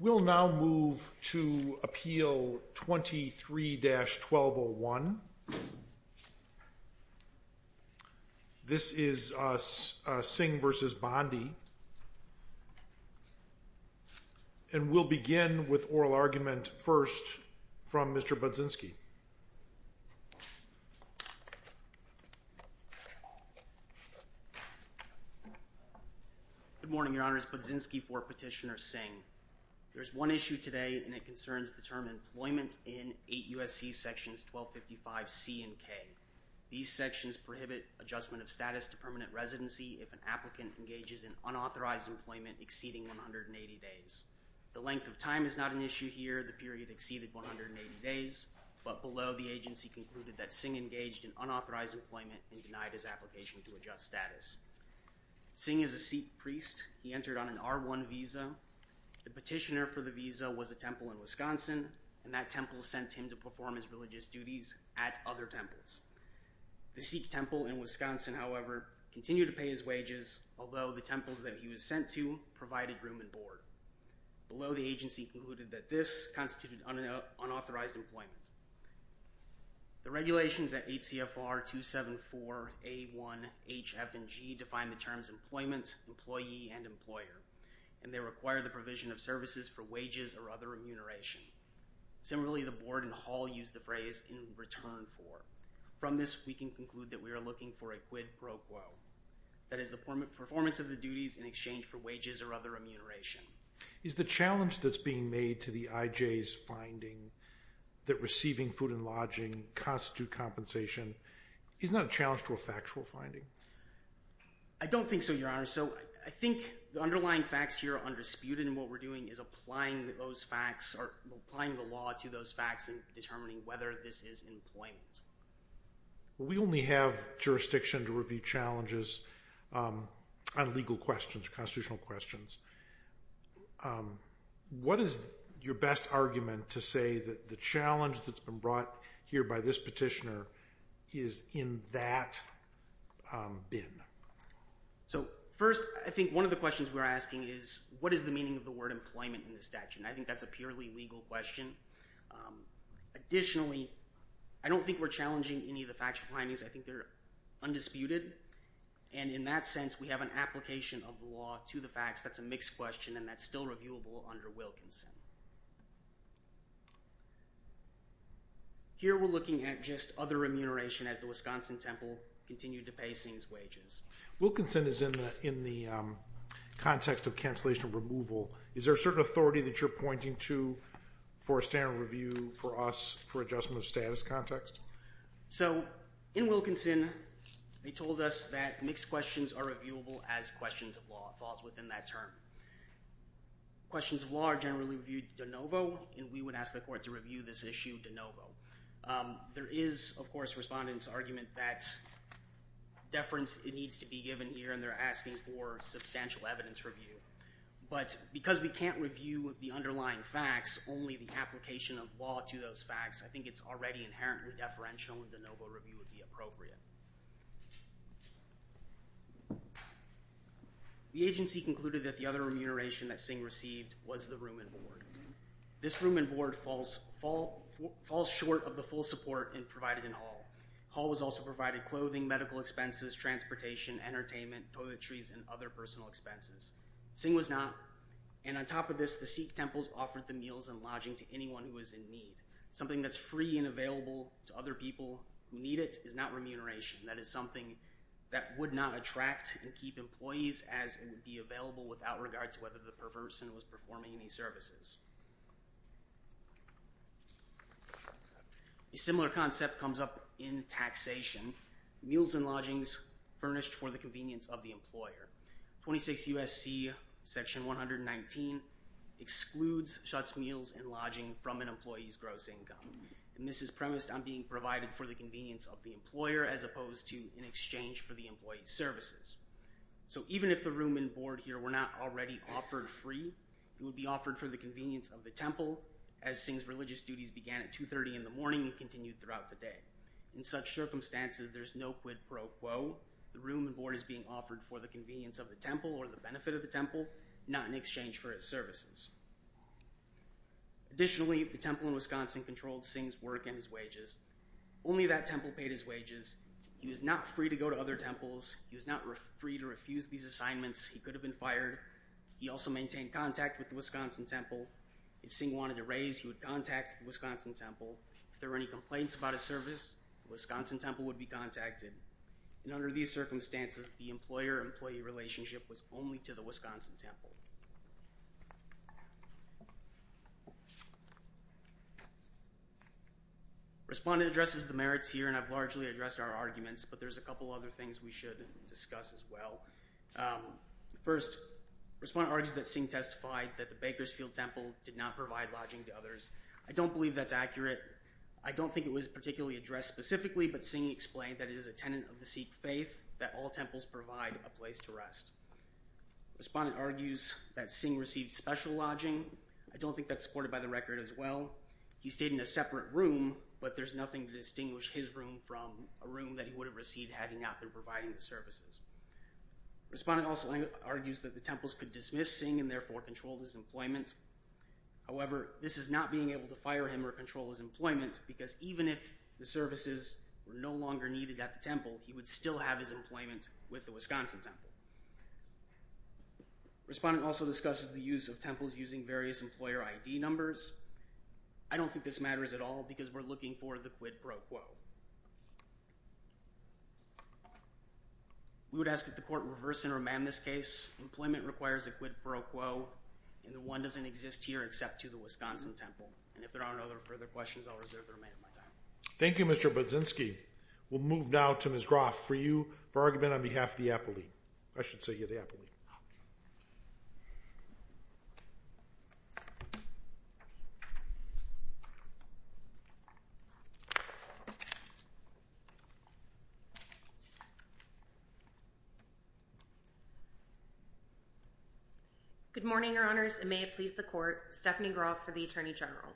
We'll now move to Appeal 23-1201. This is Singh v. Bondi. And we'll begin with oral argument first from Mr. Budzinski. Good morning, Your Honors. Budzinski for Petitioner Singh. There's one issue today and it concerns the term employment in 8 U.S.C. Sections 1255C and K. These sections prohibit adjustment of status to permanent residency if an applicant engages in unauthorized employment exceeding 180 days. The length of time is not an issue here. The period exceeded 180 days, but below, the agency concluded that Singh engaged in unauthorized employment and denied his application to adjust status. Singh is a Sikh priest. He entered on an R1 visa. The petitioner for the visa was a temple in Wisconsin, and that temple sent him to perform his religious duties at other temples. The Sikh temple in Wisconsin, however, continued to pay his wages, although the temples that he was sent to provided room and board. Below, the agency concluded that this constituted unauthorized employment. The regulations at HCFR 274A1HFG define the terms employment, employee, and employer, and they require the provision of services for wages or other remuneration. Similarly, the board and hall use the phrase in return for. From this, we can conclude that we are looking for a quid pro quo. That is the performance of the duties in exchange for wages or other remuneration. Is the challenge that's being made to the IJ's finding that receiving food and lodging constitute compensation, is that a challenge to a factual finding? I don't think so, Your Honor. So I think the underlying facts here are undisputed, and what we're doing is applying those facts or applying the law to those facts in determining whether this is employment. We only have jurisdiction to review challenges on legal questions, constitutional questions. What is your best argument to say that the challenge that's been brought here by this petitioner is in that bin? So first, I think one of the questions we're asking is, what is the meaning of the word employment in the statute? I think that's a purely legal question. Additionally, I don't think we're challenging any of the factual findings. I think they're undisputed, and in that sense, we have an application of the law to the facts. That's a mixed question, and that's still reviewable under Wilkinson. Here we're looking at just other remuneration as the Wisconsin Temple continued to pay Sings wages. Wilkinson is in the context of cancellation of removal. Is there a certain authority that you're pointing to for a standard review for us for adjustment of status context? So in Wilkinson, they told us that mixed questions are reviewable as questions of law. It falls within that term. Questions of law are generally reviewed de novo, and we would ask the court to review this issue de novo. There is, of course, respondents' argument that deference needs to be given here, and they're asking for substantial evidence review. But because we can't review the underlying facts, only the application of law to those facts, I think it's already inherently deferential, and de novo review would be appropriate. The agency concluded that the other remuneration that Singh received was the room and board. This room and board falls short of the full support provided in Hall. Hall was also provided clothing, medical expenses, transportation, entertainment, toiletries, and other personal expenses. Singh was not. And on top of this, the Sikh temples offered the meals and lodging to anyone who was in Something that's free and available to other people who need it is not remuneration. That is something that would not attract and keep employees as it would be available without regard to whether the person was performing any services. A similar concept comes up in taxation. Meals and lodgings furnished for the convenience of the employer. 26 U.S.C. section 119 excludes such meals and lodging from an employee's gross income. This is premised on being provided for the convenience of the employer as opposed to in exchange for the employee's services. So even if the room and board here were not already offered free, it would be offered for the convenience of the temple as Singh's religious duties began at 2.30 in the morning and continued throughout the day. In such circumstances, there's no quid pro quo. The room and board is being offered for the convenience of the temple or the benefit of the temple, not in exchange for its services. Additionally, the temple in Wisconsin controlled Singh's work and his wages. Only that temple paid his wages. He was not free to go to other temples. He was not free to refuse these assignments. He could have been fired. He also maintained contact with the Wisconsin temple. If Singh wanted a raise, he would contact the Wisconsin temple. If there were any complaints about his service, the Wisconsin temple would be contacted. And under these circumstances, the employer-employee relationship was only to the Wisconsin temple. Respondent addresses the merits here and I've largely addressed our arguments, but there's a couple other things we should discuss as well. First, respondent argues that Singh testified that the Bakersfield temple did not provide lodging to others. I don't believe that's accurate. I don't think it was particularly addressed specifically, but Singh explained that it is a tenant of the Sikh faith that all temples provide a place to rest. Respondent argues that Singh received special lodging. I don't think that's supported by the record as well. He stayed in a separate room, but there's nothing to distinguish his room from a room that he would have received had he not been providing the services. Respondent also argues that the temples could dismiss Singh and therefore control his employment. However, this is not being able to fire him or control his employment because even if the services were no longer needed at the temple, he would still have his employment with the Wisconsin temple. Respondent also discusses the use of temples using various employer ID numbers. I don't think this matters at all because we're looking for the quid pro quo. We would ask that the court reverse and remand this case. Employment requires a quid pro quo and the one doesn't exist here except to the Wisconsin temple. And if there aren't any further questions, I'll reserve the remainder of my time. Thank you, Mr. Budzinski. We'll move now to Ms. Groff for you for argument on behalf of the Apple League. I should say you're the Apple League. Good morning, Your Honors. It may please the court. Stephanie Groff for the Attorney General.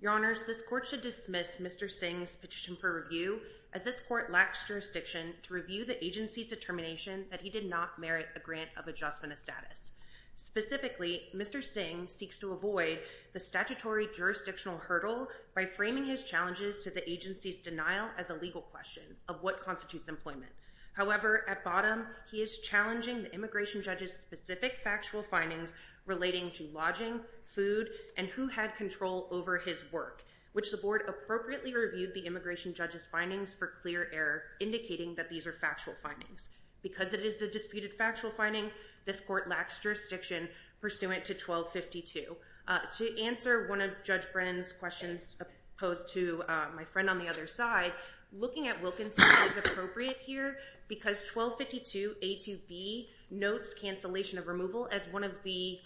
Your Honors, this court should dismiss Mr. Singh's petition for review as this court lacks jurisdiction to review the agency's determination that he did not merit a grant of adjustment of status. Specifically, Mr. Singh seeks to avoid the statutory jurisdictional hurdle by framing his challenges to the agency's denial as a legal question of what constitutes employment. However, at bottom, he is challenging the immigration judge's specific factual findings relating to lodging, food, and who had control over his work, which the board appropriately reviewed the immigration judge's findings for clear error, indicating that these are factual findings. Because it is a disputed factual finding, this court lacks jurisdiction pursuant to 1252. To answer one of Judge Brennan's questions posed to my friend on the other side, looking at Wilkinson is appropriate here because 1252A2B notes cancellation of removal as one of the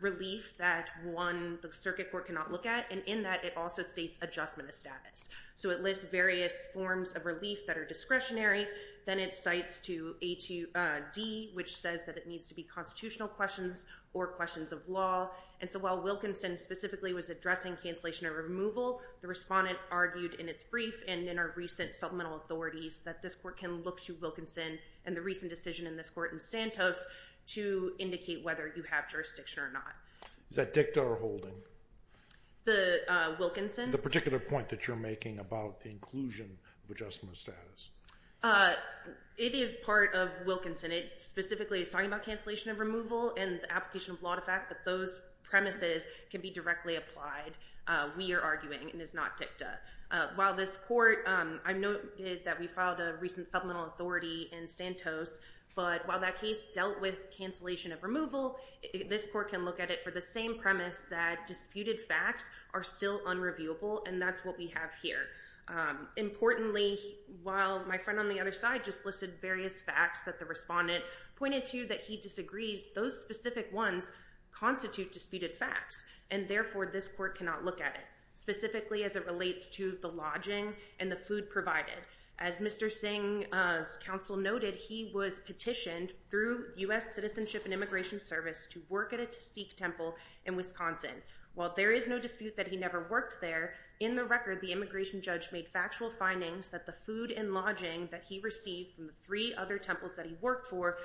relief that one, the circuit court, cannot look at. And in that, it also states adjustment of status. So it lists various forms of relief that are discretionary. Then it cites to A2D, which says that it needs to be constitutional questions or questions of law. And so while Wilkinson specifically was addressing cancellation of removal, the respondent argued in its brief and in our recent supplemental authorities that this court can look to Wilkinson and the recent decision in this court in Santos to indicate whether you have jurisdiction or not. Is that dicta or holding? Wilkinson. The particular point that you're making about the inclusion of adjustment of status. It is part of Wilkinson. It specifically is talking about cancellation of removal and the application of law to fact that those premises can be directly applied, we are arguing, and is not dicta. While this court, I noted that we filed a recent supplemental authority in Santos, but while that case dealt with cancellation of removal, this court can look at it for the same premise that disputed facts are still unreviewable, and that's what we have here. Importantly, while my friend on the other side just listed various facts that the respondent pointed to that he disagrees, those specific ones constitute disputed facts. And therefore, this court cannot look at it, specifically as it relates to the lodging and the food provided. As Mr. Singh's counsel noted, he was petitioned through U.S. Citizenship and Immigration Service to work at a Sikh temple in Wisconsin. While there is no dispute that he never worked there, in the record, the immigration judge made factual findings that the food and lodging that he received from the three other temples that he worked for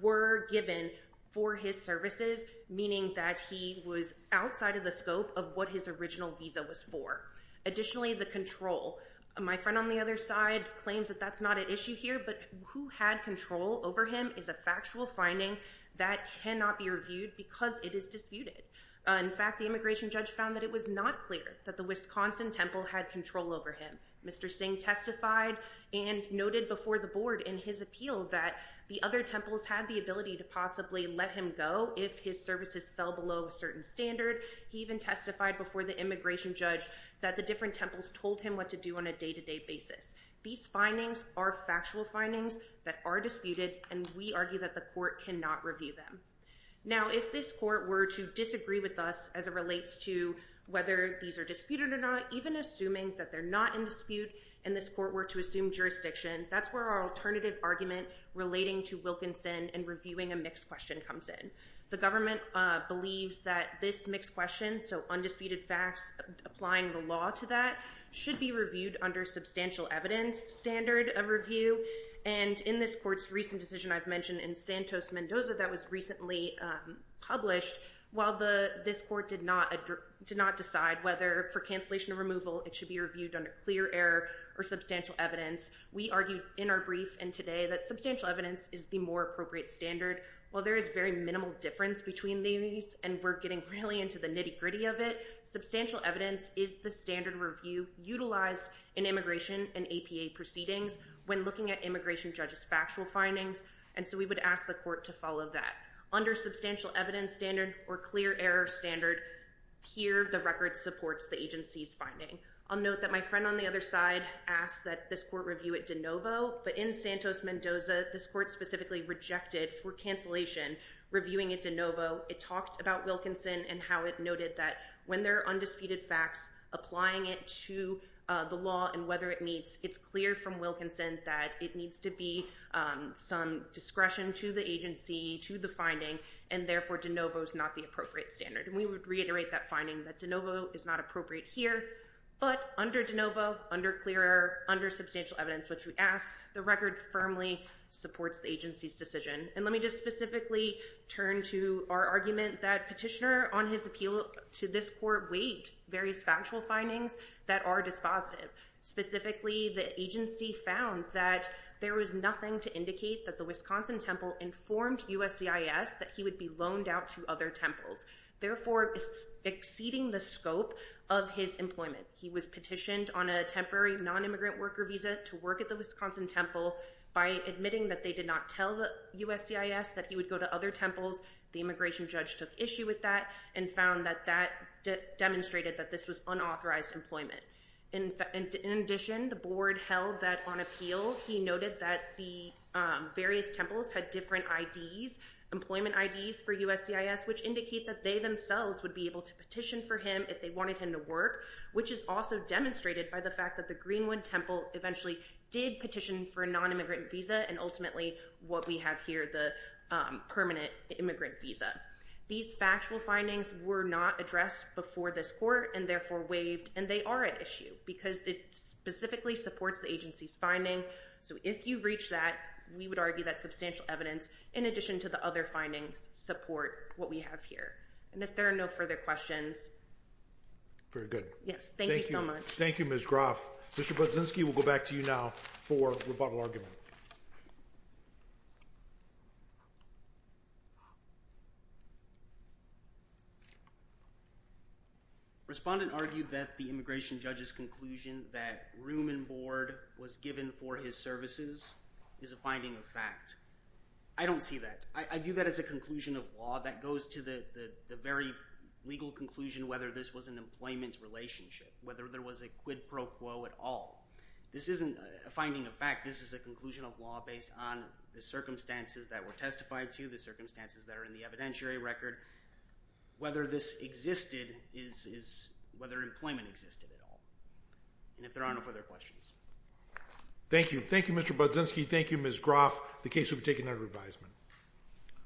were given for his services, meaning that he was outside of the scope of what his original visa was for. Additionally, the control. My friend on the other side claims that that's not at issue here, but who had control over him is a factual finding that cannot be reviewed because it is disputed. In fact, the immigration judge found that it was not clear that the Wisconsin temple had control over him. Mr. Singh testified and noted before the board in his appeal that the other temples had the ability to possibly let him go if his services fell below a certain standard. He even testified before the immigration judge that the different temples told him what to do on a day-to-day basis. These findings are factual findings that are disputed, and we argue that the court cannot review them. Now, if this court were to disagree with us as it relates to whether these are disputed or not, even assuming that they're not in dispute and this court were to assume jurisdiction, that's where our alternative argument relating to Wilkinson and reviewing a mixed question comes in. The government believes that this mixed question, so undisputed facts applying the law to that, should be reviewed under substantial evidence standard of review. And in this court's recent decision I've mentioned in Santos-Mendoza that was recently published, while this court did not decide whether for cancellation or removal it should be reviewed under clear error or substantial evidence, we argued in our brief and today that substantial evidence is the more appropriate standard. While there is very minimal difference between these, and we're getting really into the nitty-gritty of it, substantial evidence is the standard review utilized in immigration and APA proceedings when looking at immigration judge's factual findings, and so we would ask the court to follow that. Under substantial evidence standard or clear error standard, here the record supports the agency's finding. I'll note that my friend on the other side asked that this court review it de novo, but in Santos-Mendoza this court specifically rejected for cancellation reviewing it de It talked about Wilkinson and how it noted that when there are undisputed facts applying it to the law and whether it meets, it's clear from Wilkinson that it needs to be some discretion to the agency, to the finding, and therefore de novo is not the appropriate standard. And we would reiterate that finding that de novo is not appropriate here, but under de novo, under clear error, under substantial evidence, which we ask, the record firmly supports the agency's decision. And let me just specifically turn to our argument that petitioner on his appeal to this court weighed various factual findings that are dispositive. Specifically, the agency found that there was nothing to indicate that the Wisconsin Temple informed USCIS that he would be loaned out to other temples, therefore exceeding the scope of his employment. He was petitioned on a temporary nonimmigrant worker visa to work at the Wisconsin Temple by admitting that they did not tell USCIS that he would go to other temples. The immigration judge took issue with that and found that that demonstrated that this was unauthorized employment. In addition, the board held that on appeal, he noted that the various temples had different IDs, employment IDs for USCIS, which indicate that they themselves would be able to petition for him if they wanted him to work, which is also demonstrated by the fact that the Greenwood Temple eventually did petition for a nonimmigrant visa and ultimately what we have here, the permanent immigrant visa. These factual findings were not addressed before this court and therefore waived, and they are at issue because it specifically supports the agency's finding. So, if you reach that, we would argue that substantial evidence, in addition to the other findings, support what we have here. And if there are no further questions. Very good. Yes. Thank you so much. Thank you, Ms. Groff. Mr. Budzinski, we'll go back to you now for rebuttal argument. Respondent argued that the immigration judge's conclusion that room and board was given for his services is a finding of fact. I don't see that. I view that as a conclusion of law that goes to the very legal conclusion whether this was an employment relationship, whether there was a quid pro quo at all. This isn't a finding of fact. This is a conclusion of law based on the circumstances that were testified to, the circumstances that are in the evidentiary record. Whether this existed is whether employment existed at all. And if there are no further questions. Thank you. Thank you, Mr. Budzinski. Thank you, Ms. Groff. The case will be taken under revision.